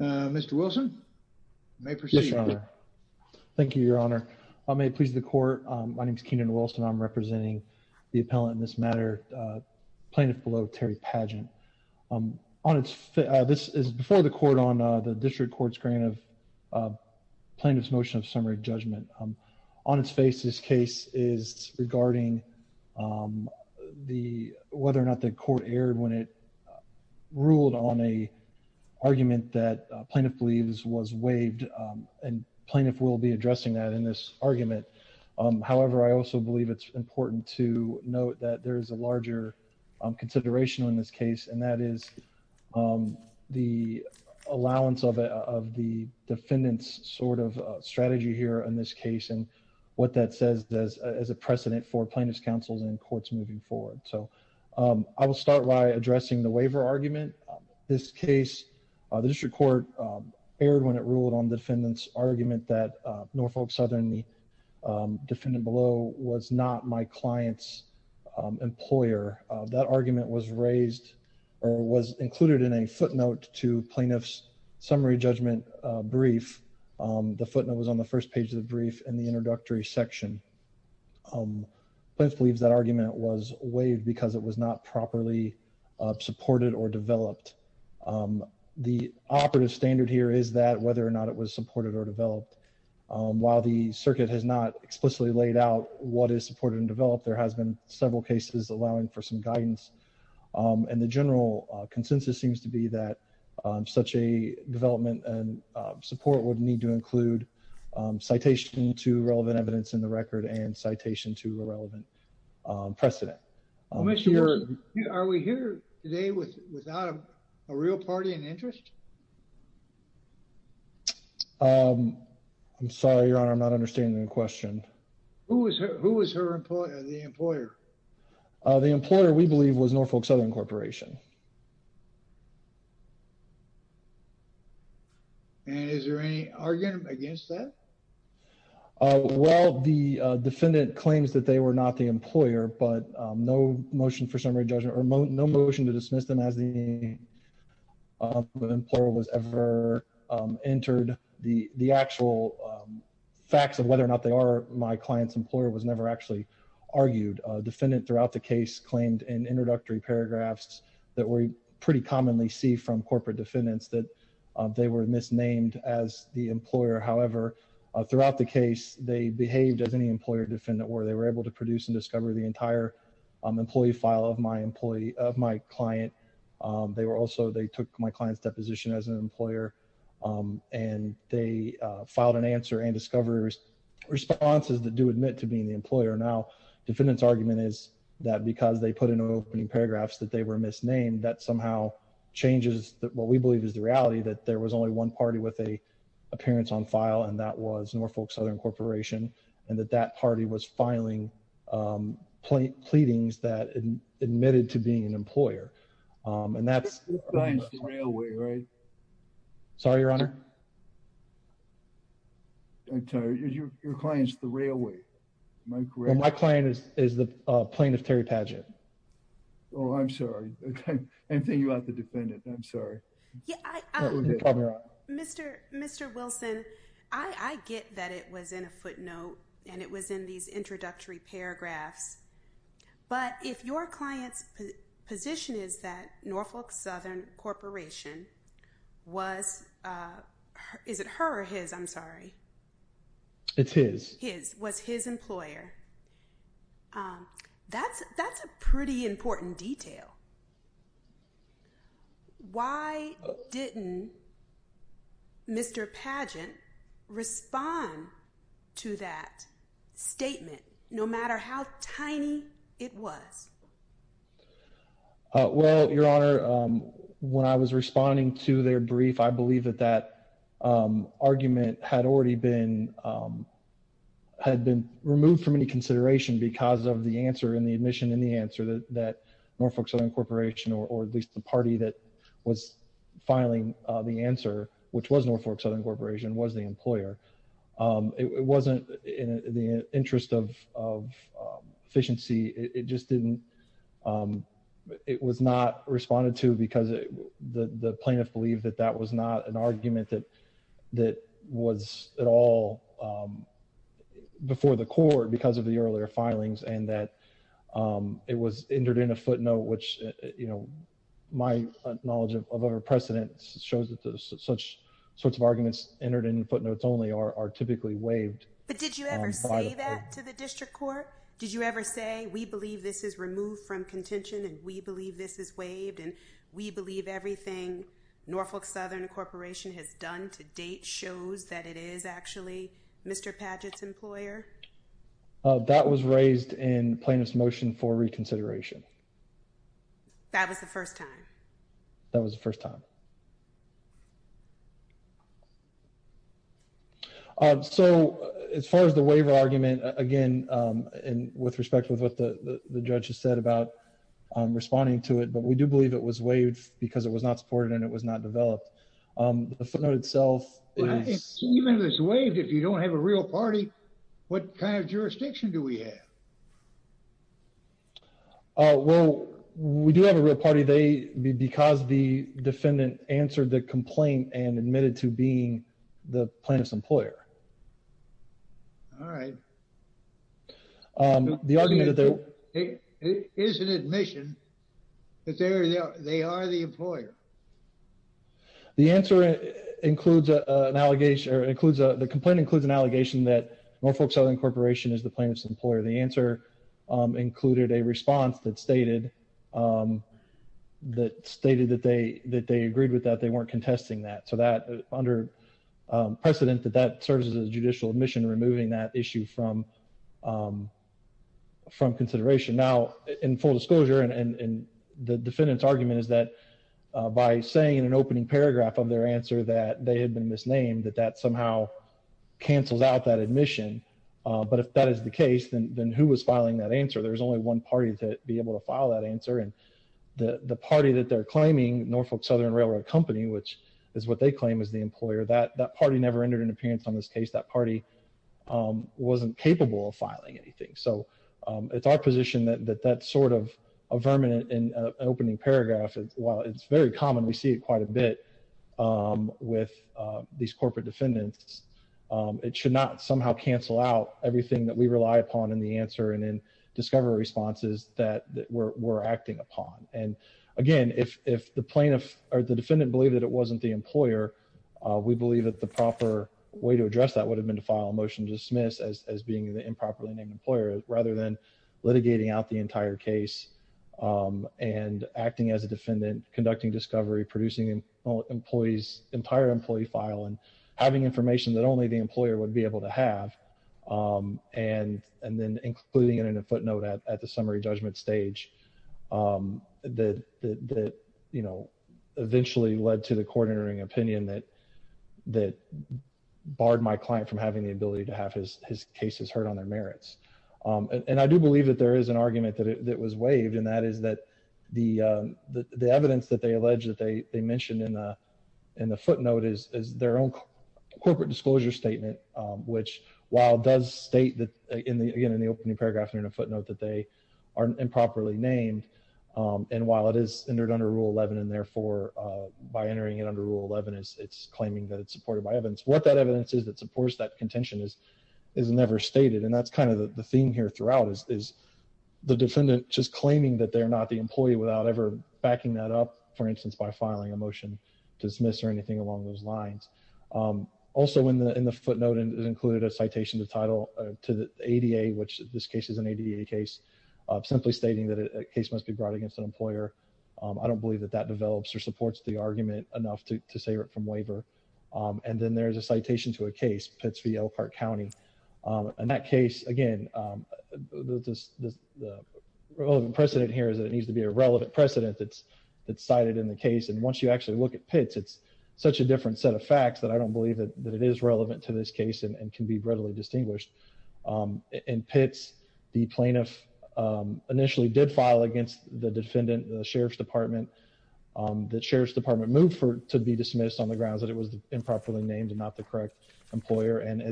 Mr. Wilson, may proceed. Yes, your honor. Thank you, your honor. May it please the court. My name is Kenan Wilson. I'm representing the appellant in this matter, plaintiff below Terry Padgett. This is before the court on the district court's grant of plaintiff's motion of summary judgment. On its face, this case is regarding whether or not the court erred when it plaintiff believes was waived. And plaintiff will be addressing that in this argument. However, I also believe it's important to note that there is a larger consideration on this case. And that is the allowance of the defendant's sort of strategy here in this case and what that says as a precedent for plaintiff's counsels and courts moving forward. So I will start by the district court erred when it ruled on defendants argument that Norfolk Southern defendant below was not my client's employer. That argument was raised or was included in a footnote to plaintiff's summary judgment brief. The footnote was on the first page of the brief and the introductory section. Plaintiff believes that argument was waived because it was not properly supported or developed. The operative standard here is that whether or not it was supported or developed. While the circuit has not explicitly laid out what is supported and developed, there has been several cases allowing for some guidance. And the general consensus seems to be that such a development and support would need to include citation to relevant Are we here today with without a real party in interest? Um, I'm sorry, your honor. I'm not understanding the question. Who was who was her employer? The employer? The employer we believe was Norfolk Southern Corporation. And is there any argument against that? Well, the defendant claims that they were not the employer, but no motion for summary judgment or no motion to dismiss them as the employer was ever entered. The actual facts of whether or not they are my client's employer was never actually argued. Defendant throughout the case claimed in introductory paragraphs that we pretty commonly see from corporate defendants that they were misnamed as the employer. However, throughout the case, they behaved as any employer defendant where they were able to produce and discover the entire employee file of my employee of my client. They were also they took my client's deposition as an employer. And they filed an answer and discoverers responses that do admit to being the employer. Now, defendant's argument is that because they put in opening paragraphs that they were misnamed, that somehow changes that what we believe is the reality that there was only one party with a appearance on file. And that was Norfolk Southern Corporation. And that that party was filing pleadings that admitted to being an employer. And that's the railway, right? Sorry, your honor. Okay, your client's the railway. My client is the plaintiff Terry Padgett. Oh, I'm sorry. I'm thinking about the defendant. I'm sorry. Mr. Mr. Wilson, I get that it was in a footnote. And it was in these introductory paragraphs. But if your client's position is that Norfolk Southern Corporation was, is it her or his? I'm sorry. It is his was his employer. That's, that's a pretty important detail. Why didn't Mr. Padgett respond to that statement, no matter how tiny it was? Well, your honor, when I was responding to their brief, I believe that that argument had already been had been removed from any consideration because of the answer in the admission in the answer that that Norfolk Southern Corporation or at least the party that was filing the answer, which was Norfolk Southern Corporation was the employer. It wasn't in the interest of efficiency, it just didn't. It was not responded to because the plaintiff believed that that was not an argument that that was at all before the court because of the earlier filings and that it was entered in a footnote, which, you know, my knowledge of other precedents shows that there's such sorts of arguments entered in footnotes only are typically waived. But did you ever say that to the district court? Did you ever say we believe this is removed from contention and we believe this is waived and we believe everything Norfolk Southern Corporation has done to date shows that it is actually Mr. Padgett's employer? That was raised in plaintiff's motion for reconsideration. That was the first time. That was the first time. So as far as the waiver argument again, and with respect with what the the judge has said about responding to it, but we do believe it was waived because it was not supported and it was not developed. The footnote itself is. Even if it's waived, if you don't have a real party, what kind of jurisdiction do we have? Well, we do have a real party. They because the defendant answered the complaint and admitted to being the plaintiff's employer. All right. The argument is an admission that they are the employer. The answer includes an allegation or includes the complaint includes an allegation that Norfolk Southern Corporation is the plaintiff's employer. The answer included a response that stated that stated that they that they agreed with that they weren't contesting that. So that under precedent that that serves as a judicial admission, removing that issue from from consideration now in full disclosure and the defendant's argument is that by saying in an opening paragraph of their answer that they had been misnamed that that somehow cancels out that admission. But if that is the case, then who was filing that answer? There's only one party to be able to file that answer. And the party that they're claiming, Norfolk Southern Railroad Company, which is what they claim is the employer, that that party never entered an appearance on this case. That party wasn't capable of filing anything. So it's our position that that's sort of a vermin in an opening paragraph. While it's very common, we see quite a bit with these corporate defendants, it should not somehow cancel out everything that we rely upon in the answer and in discovery responses that we're acting upon. And again, if if the plaintiff or the defendant believe that it wasn't the employer, we believe that the proper way to address that would have been to file a motion to dismiss as being an improperly named employer rather than litigating out the entire case and acting as a defendant, conducting discovery, producing an employee's entire employee file and having information that only the employer would be able to have. And and then including it in a footnote at the summary judgment stage that that, you know, eventually led to the court hearing opinion that that barred my client from having the ability to have his his cases heard on their merits. And I do believe that there is an they mentioned in the footnote is their own corporate disclosure statement, which while does state that in the in the opening paragraph in a footnote that they are improperly named. And while it is entered under Rule 11, and therefore, by entering it under Rule 11, it's claiming that it's supported by evidence, what that evidence is, that supports that contention is, is never stated. And that's kind of the theme here throughout is, is the defendant just claiming that they're not the employee without ever backing that up, for instance, by filing a motion to dismiss or anything along those lines. Also, in the in the footnote, and it included a citation to title to the ADA, which this case is an ADA case, simply stating that a case must be brought against an employer. I don't believe that that develops or supports the argument enough to save it from waiver. And then there's a citation to a case Pittsburgh, Elkhart County. In that case, again, this precedent here is that it needs to be a relevant precedent that's that's cited in the case. And once you actually look at pits, it's such a different set of facts that I don't believe that it is relevant to this case and can be readily distinguished. In pits, the plaintiff initially did file against the defendant Sheriff's Department, that Sheriff's Department moved for to be dismissed on the grounds that it was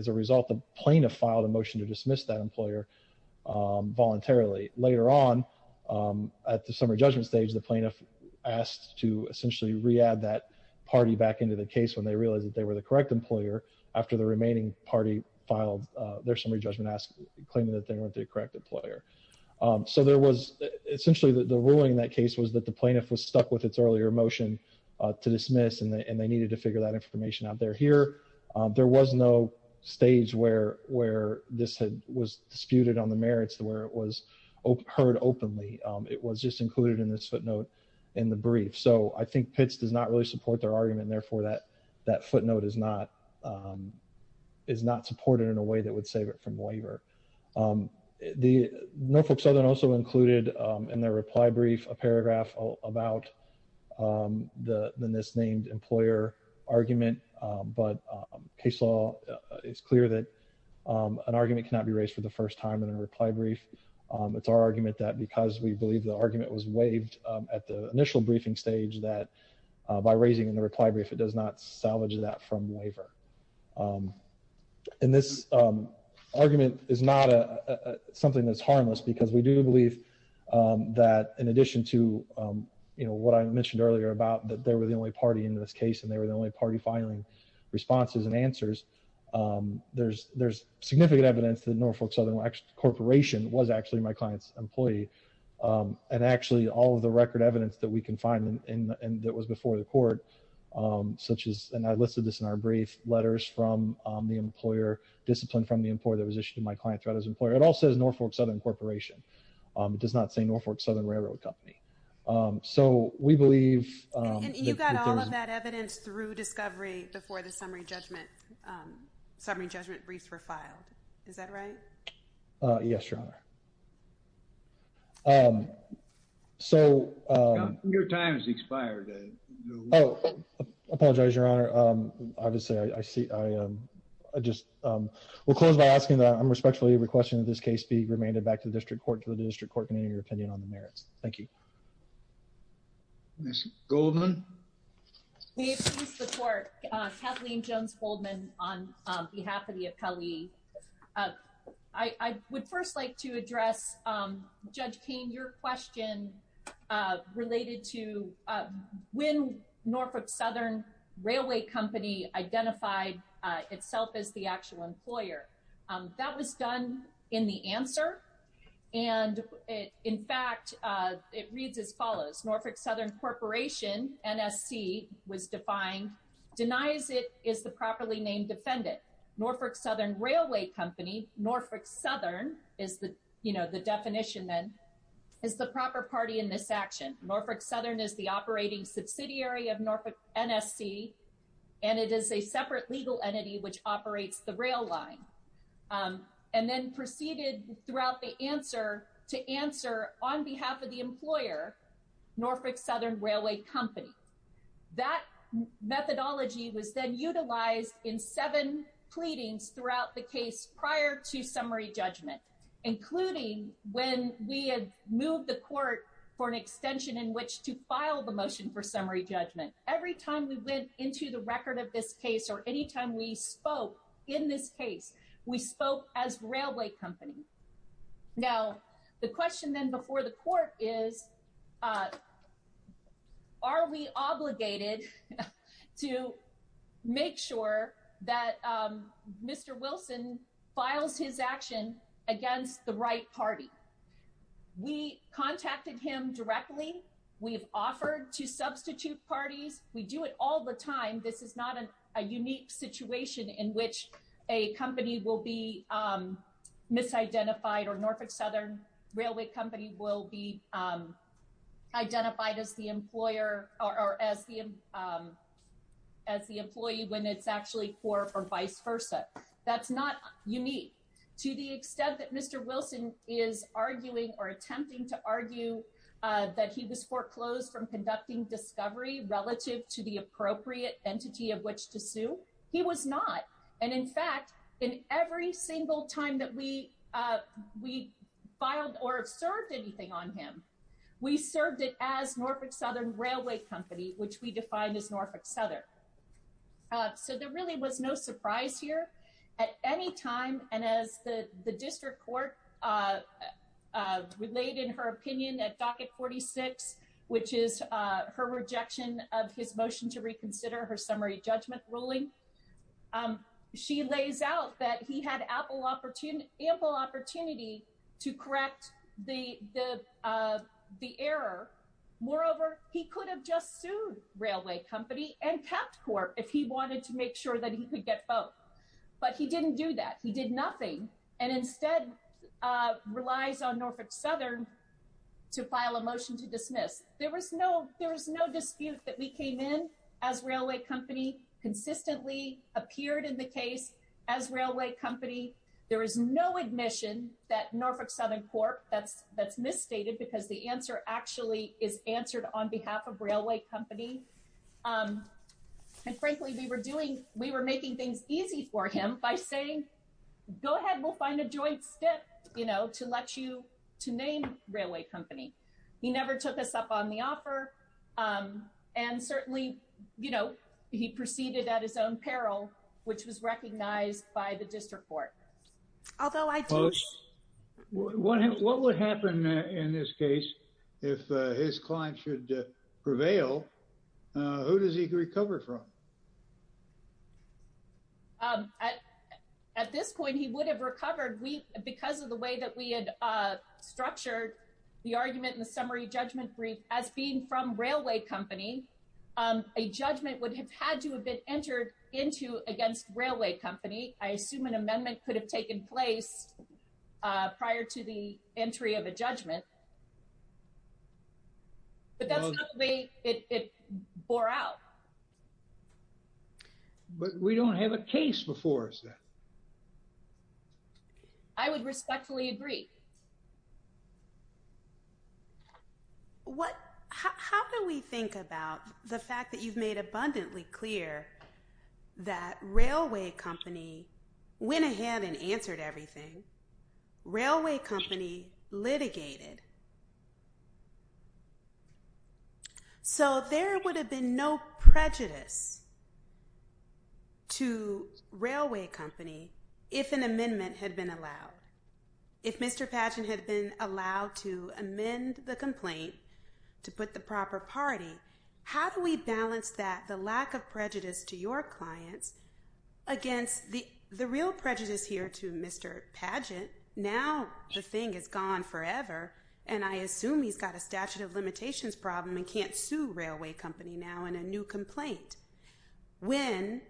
a result of plaintiff filed a motion to dismiss that employer voluntarily. Later on, at the summary judgment stage, the plaintiff asked to essentially read that party back into the case when they realized that they were the correct employer after the remaining party filed their summary judgment asked claiming that they were the correct employer. So there was essentially the ruling in that case was that the plaintiff was stuck with its earlier motion to dismiss and they needed to figure that information out there here. There was no stage where where this had was disputed on the merits to where it was heard openly. It was just included in this footnote in the brief. So I think pits does not really support their argument. Therefore, that that footnote is not is not supported in a way that would save it from waiver. The Norfolk Southern also included in their reply brief, a paragraph about the misnamed employer argument. But case law is clear that an argument cannot be raised for the first time in a reply brief. It's our argument that because we believe the argument was waived at the initial briefing stage that by raising in the reply brief, it does not salvage that from waiver. And this argument is not a something that's harmless, because we do believe that in addition to, you know, what I mentioned earlier about that they were the only party in this case, and they were the only party filing responses and answers. There's there's significant evidence that Norfolk Southern corporation was actually my client's employee. And actually, all of the record evidence that we can find in that was before the court, such as and I listed this in our brief letters from the employer discipline from the employer that was issued my client threat as an employer. It all says Norfolk Southern Corporation. It does not say Norfolk Southern Railroad Company. So we believe you got all of that evidence through discovery before the summary judgment summary judgment briefs were filed. Is that right? Yes, Your Honor. So your time's expired. Oh, I apologize, Your Honor. Obviously, I see I just will close by asking that I'm respectfully requesting that this case be remanded back to the district court to the district court in your opinion on the merits. Thank you. Ms. Goldman. We support Kathleen Jones Goldman on behalf of the appellee. I would first like to address Judge Kane, your question related to when Norfolk Southern Railway Company identified itself as the actual employer that was done in the answer. And in fact, it reads as follows. Norfolk Southern Corporation NSC was defined denies it is the properly named defendant. Norfolk Southern Railway Company, Norfolk Southern is the you know, the definition then is the proper party in this action. Norfolk Southern is the operating subsidiary of Norfolk NSC and it is a separate legal entity which operates the rail line and then proceeded throughout the answer to answer on behalf of the employer, Norfolk Southern Railway Company. That methodology was then utilized in seven pleadings throughout the case prior to summary judgment, including when we had moved the court for an extension in which to file the motion for into the record of this case or anytime we spoke in this case, we spoke as railway company. Now, the question then before the court is, are we obligated to make sure that Mr. Wilson files his action against the right party? We contacted him directly. We've offered to substitute parties. We do it all the time. This is not a unique situation in which a company will be misidentified or Norfolk Southern Railway Company will be identified as the employer or as the employee when it's actually for or vice versa. That's not unique to the extent that Mr. Wilson is arguing or attempting to argue that he was foreclosed from conducting discovery relative to the appropriate entity of which to sue. He was not. And in fact, in every single time that we filed or served anything on him, we served it as Norfolk Southern Railway Company, which we defined as Norfolk Southern. So there really was no surprise here at any time. And as the district court relayed in her opinion at docket 46, which is her rejection of his motion to reconsider her summary judgment ruling, she lays out that he had ample opportunity to correct the error. Moreover, he could have just sued railway company and kept court if he wanted to make sure that he could get but he didn't do that. He did nothing and instead relies on Norfolk Southern to file a motion to dismiss. There was no there was no dispute that we came in as railway company consistently appeared in the case as railway company. There is no admission that Norfolk Southern Court that's that's misstated because the answer actually is answered on behalf of railway company. And frankly, we were doing we were making things easy for him by saying, go ahead, we'll find a joint step, you know, to let you to name railway company. He never took us up on the offer. And certainly, you know, he proceeded at his own peril, which was recognized by the district Although I What would happen in this case, if his client should prevail? Who does he recover from? At this point, he would have recovered we because of the way that we had structured the argument in the summary judgment brief as being from railway company, a judgment would have had to have been entered into against railway company, I assume an amendment could have taken place prior to the entry of a judgment. But that's the way it bore out. But we don't have a case before us. I would respectfully agree. What, how do we think about the fact that you've made abundantly clear that railway company went ahead and answered everything railway company litigated. So there would have been no prejudice to railway company, if an amendment had been allowed. If Mr. Padgett had been allowed to amend the complaint to put the proper party, how do we balance that the lack of prejudice to your clients against the real prejudice here to Mr. Padgett, now, the thing is gone forever. And I assume he's got a statute of limitations problem and can't sue railway company now in a new complaint. When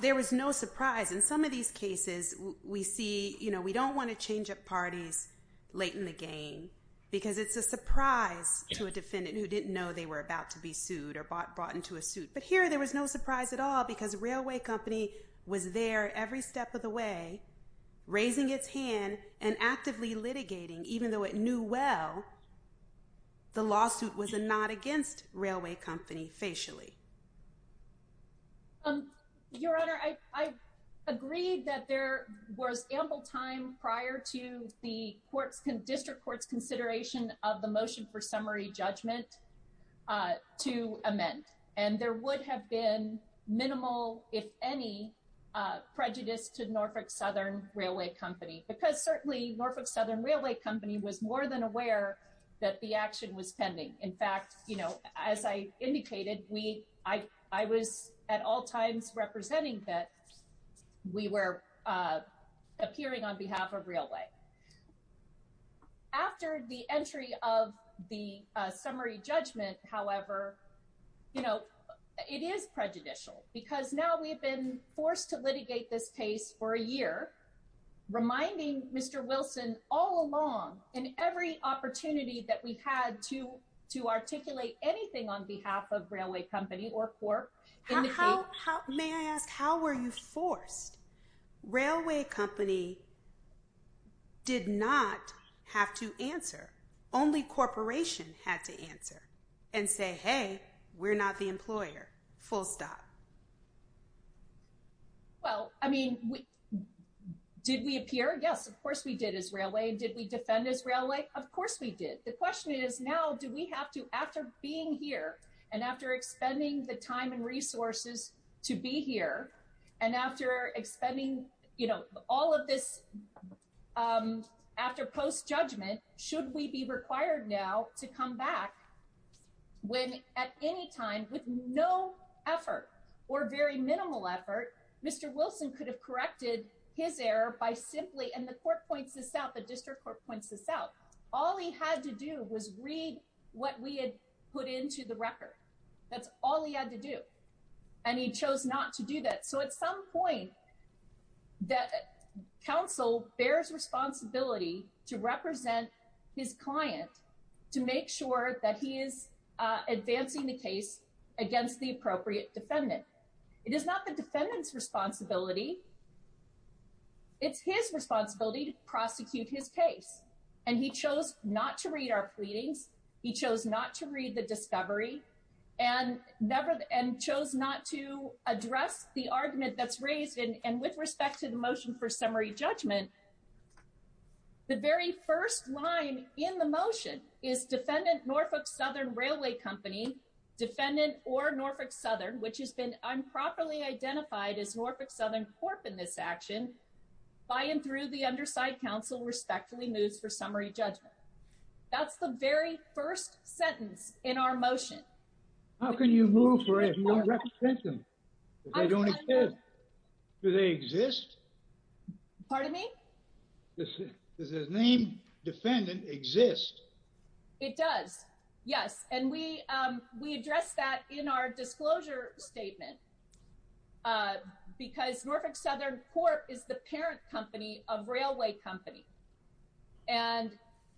there was no surprise in some of these cases, we see, you know, we don't want to change up parties late in the game, because it's a surprise to a defendant who didn't know they were about to be sued or bought into a suit. But here, there was no surprise at all, because railway company was there every step of the way, raising its hand and actively litigating even though it knew well, the lawsuit was not against railway company facially. Um, Your Honor, I, I agreed that there was ample time prior to the courts and district courts consideration of the motion for summary judgment to amend, and there would have been minimal, if any prejudice to Norfolk Southern Railway Company, because certainly Norfolk Southern Railway Company was more than aware that the action was pending. In fact, you know, as I indicated, we, I, I was at all times representing that we were appearing on behalf of railway. After the entry of the summary judgment, however, you know, it is prejudicial, because now we've been forced to litigate this case for a year, reminding Mr. Wilson all along, and every opportunity that we had to, to articulate anything on behalf of railway company or court. How, may I ask, how were you forced? Railway company did not have to answer, only corporation had to answer and say, hey, we're not the employer, full stop. Well, I mean, we, did we appear? Yes, of course we did as railway. Did we defend as railway? Of course we did. The question is now, do we have to, after being here, and after expending the time and resources to be here, and after expending, you know, all of this, um, after post-judgment, should we be required now to come back when, at any time, with no effort, or very minimal effort, Mr. Wilson could have corrected his error by simply, and the court points this out, the district court points this out, all he had to do was read what we had put into the record. That's all he had to do, and he chose not to do that. So at some point, that counsel bears responsibility to represent his client, to make sure that he is, uh, advancing the case against the appropriate defendant. It is not the defendant's responsibility, it's his responsibility to prosecute his case, and he chose not to read our pleadings, he chose not to read the discovery, and never, and chose not to address the argument that's raised, and with respect to the motion for summary judgment, the very first line in the motion is defendant Norfolk Southern Railway Company, defendant or Norfolk Southern, which has been improperly identified as Norfolk Southern Corp in this action, by and through the underside counsel respectfully moves for summary judgment. That's the very first sentence in our motion. How can you move for a more representation if they don't exist? Do they exist? Pardon me? Does his name, defendant, exist? It does, yes, and we, um, we address that in our disclosure statement, uh, because Norfolk Southern Corp is the parent company of Railway Company, and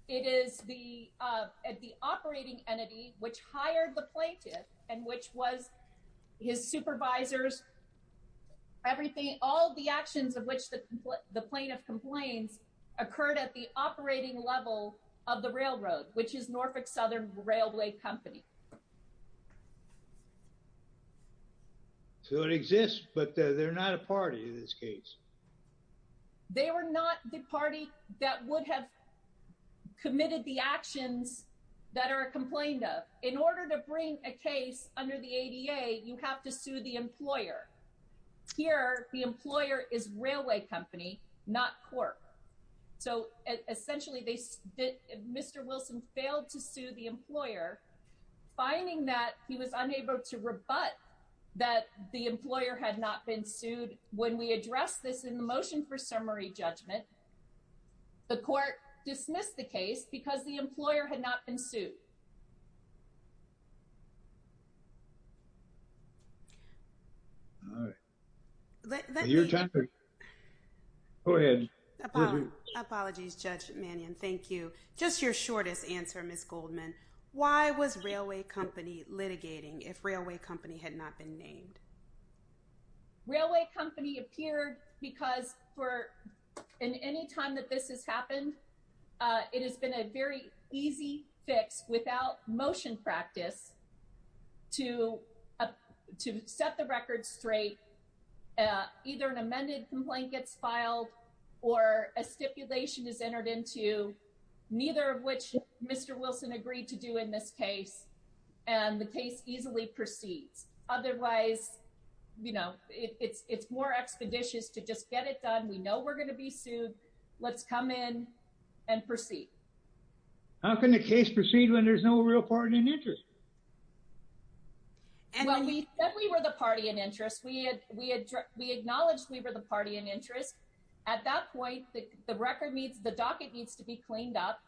it is the, uh, the operating entity which hired the plaintiff, and which was his supervisors, everything, all the actions of which the, the plaintiff complains occurred at the operating level of the railroad, which is Norfolk Southern Railway Company. So it exists, but they're not a party in this case. They were not the party that would have committed the actions that are complained of. In order to bring a case under the ADA, you have to sue the employer. Here, the employer is Railway Company, not Corp, so essentially they, Mr. Wilson failed to sue the employer, finding that he was unable to rebut that the employer had not been sued. When we addressed this in the motion for summary judgment, the court dismissed the case because the employer had not been sued. All right. Go ahead. Apologies, Judge Mannion. Thank you. Just your shortest answer, Ms. Goldman. Why was Railway Company litigating if Railway Company had not been named? Railway Company appeared because for, in any time that this has happened, it has been a very easy fix without motion practice to, to set the record straight, either an amended complaint gets filed or a stipulation is entered into, neither of which Mr. Wilson agreed to do in this case, and the case easily proceeds. Otherwise, you know, it's, it's more expeditious to just get it done. We know we're going to be sued. Let's come in and proceed. How can the case proceed when there's no real party in interest? Well, we said we were the party in interest. We had, we had, we acknowledged we were the party in interest. At that point, the record needs, the docket needs to be cleaned up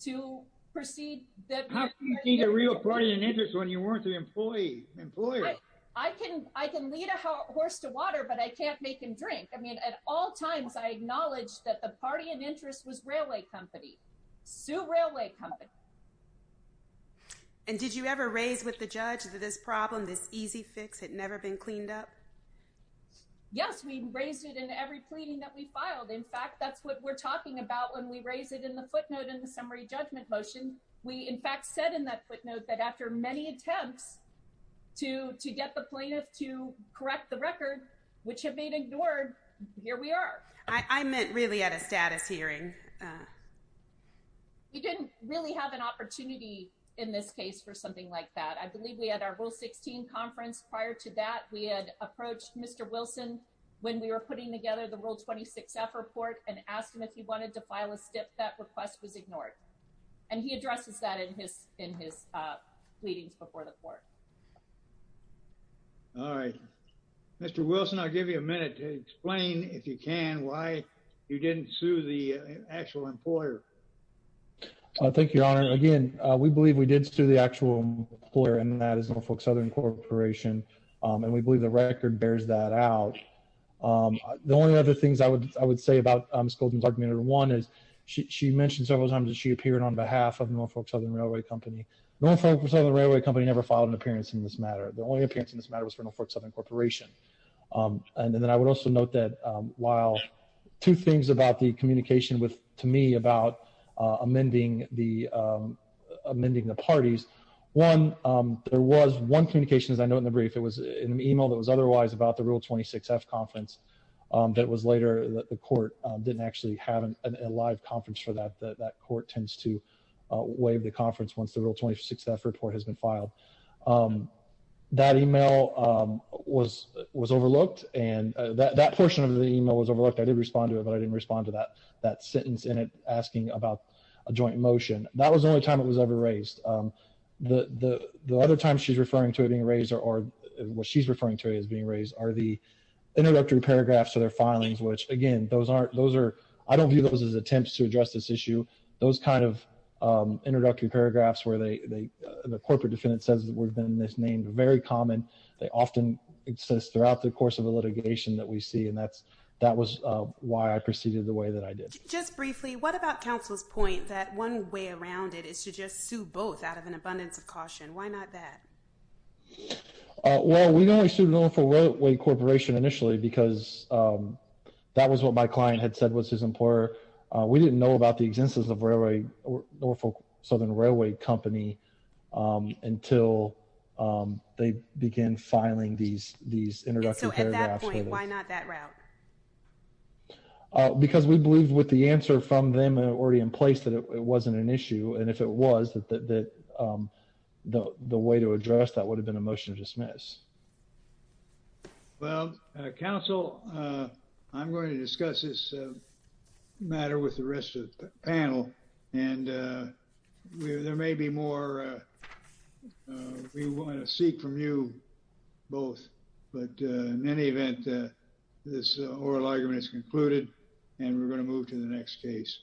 to proceed. How can you be the real party in interest when you weren't the employee, employer? I can, I can lead a horse to water, but I can't make him drink. I mean, at all times, I acknowledged that the party in interest was Railway Company, Sue Railway Company. And did you ever raise with the judge that this problem, this easy fix had never been cleaned up? Yes, we raised it in every pleading that we filed. In fact, that's what we're talking about when we raise it in the footnote in the summary judgment motion. We in fact said in that footnote that after many attempts to, to get the plaintiff to correct the record, which have been ignored, here we are. I meant really at a status hearing. We didn't really have an opportunity in this case for something like that. I believe we had our 16 conference. Prior to that, we had approached Mr. Wilson when we were putting together the world 26 F report and asked him if he wanted to file a step that request was ignored. And he addresses that in his in his pleadings before the court. All right, Mr. Wilson, I'll give you a minute to explain if you can why you didn't sue the actual employer. I think your honor again, we believe we did sue the actual employer and that is Norfolk Southern Corporation. And we believe the record bears that out. The only other things I would, I would say about Ms. Golden's argument or one is she mentioned several times that she appeared on behalf of Norfolk Southern Railway Company. Norfolk Southern Railway Company never filed an appearance in this matter. The only appearance in this matter was for Norfolk Southern Corporation. And then I would also note that while two things about the communication to me about amending the parties. One, there was one communication as I know in the brief, it was in an email that was otherwise about the real 26 F conference. That was later that the court didn't actually have a live conference for that. That court tends to waive the conference once the real 26 F report has been filed. That email was overlooked. And that portion of the in it asking about a joint motion. That was the only time it was ever raised. The other time she's referring to it being raised or what she's referring to as being raised are the introductory paragraphs of their filings, which again, those aren't, those are, I don't view those as attempts to address this issue. Those kinds of introductory paragraphs where they, the corporate defendant says that would have been misnamed very common. They often exist throughout the course of the litigation that we see. And that's, that was why I proceeded the way that I did. Just briefly, what about counsel's point that one way around it is to just sue both out of an abundance of caution? Why not that? Well, we only sued Norfolk Railway Corporation initially because that was what my client had said was his employer. We didn't know about the existence of Norfolk Southern Railway Company until they began filing these, these introductory paragraphs. Why not that route? Because we believe with the answer from them already in place that it wasn't an issue. And if it was that, that, that the, the way to address that would have been a motion to dismiss. Well, counsel, I'm going to discuss this matter with the rest of the panel and we, there may be more we want to seek from you both, but in any event, this oral argument is concluded and we're going to move to the next case.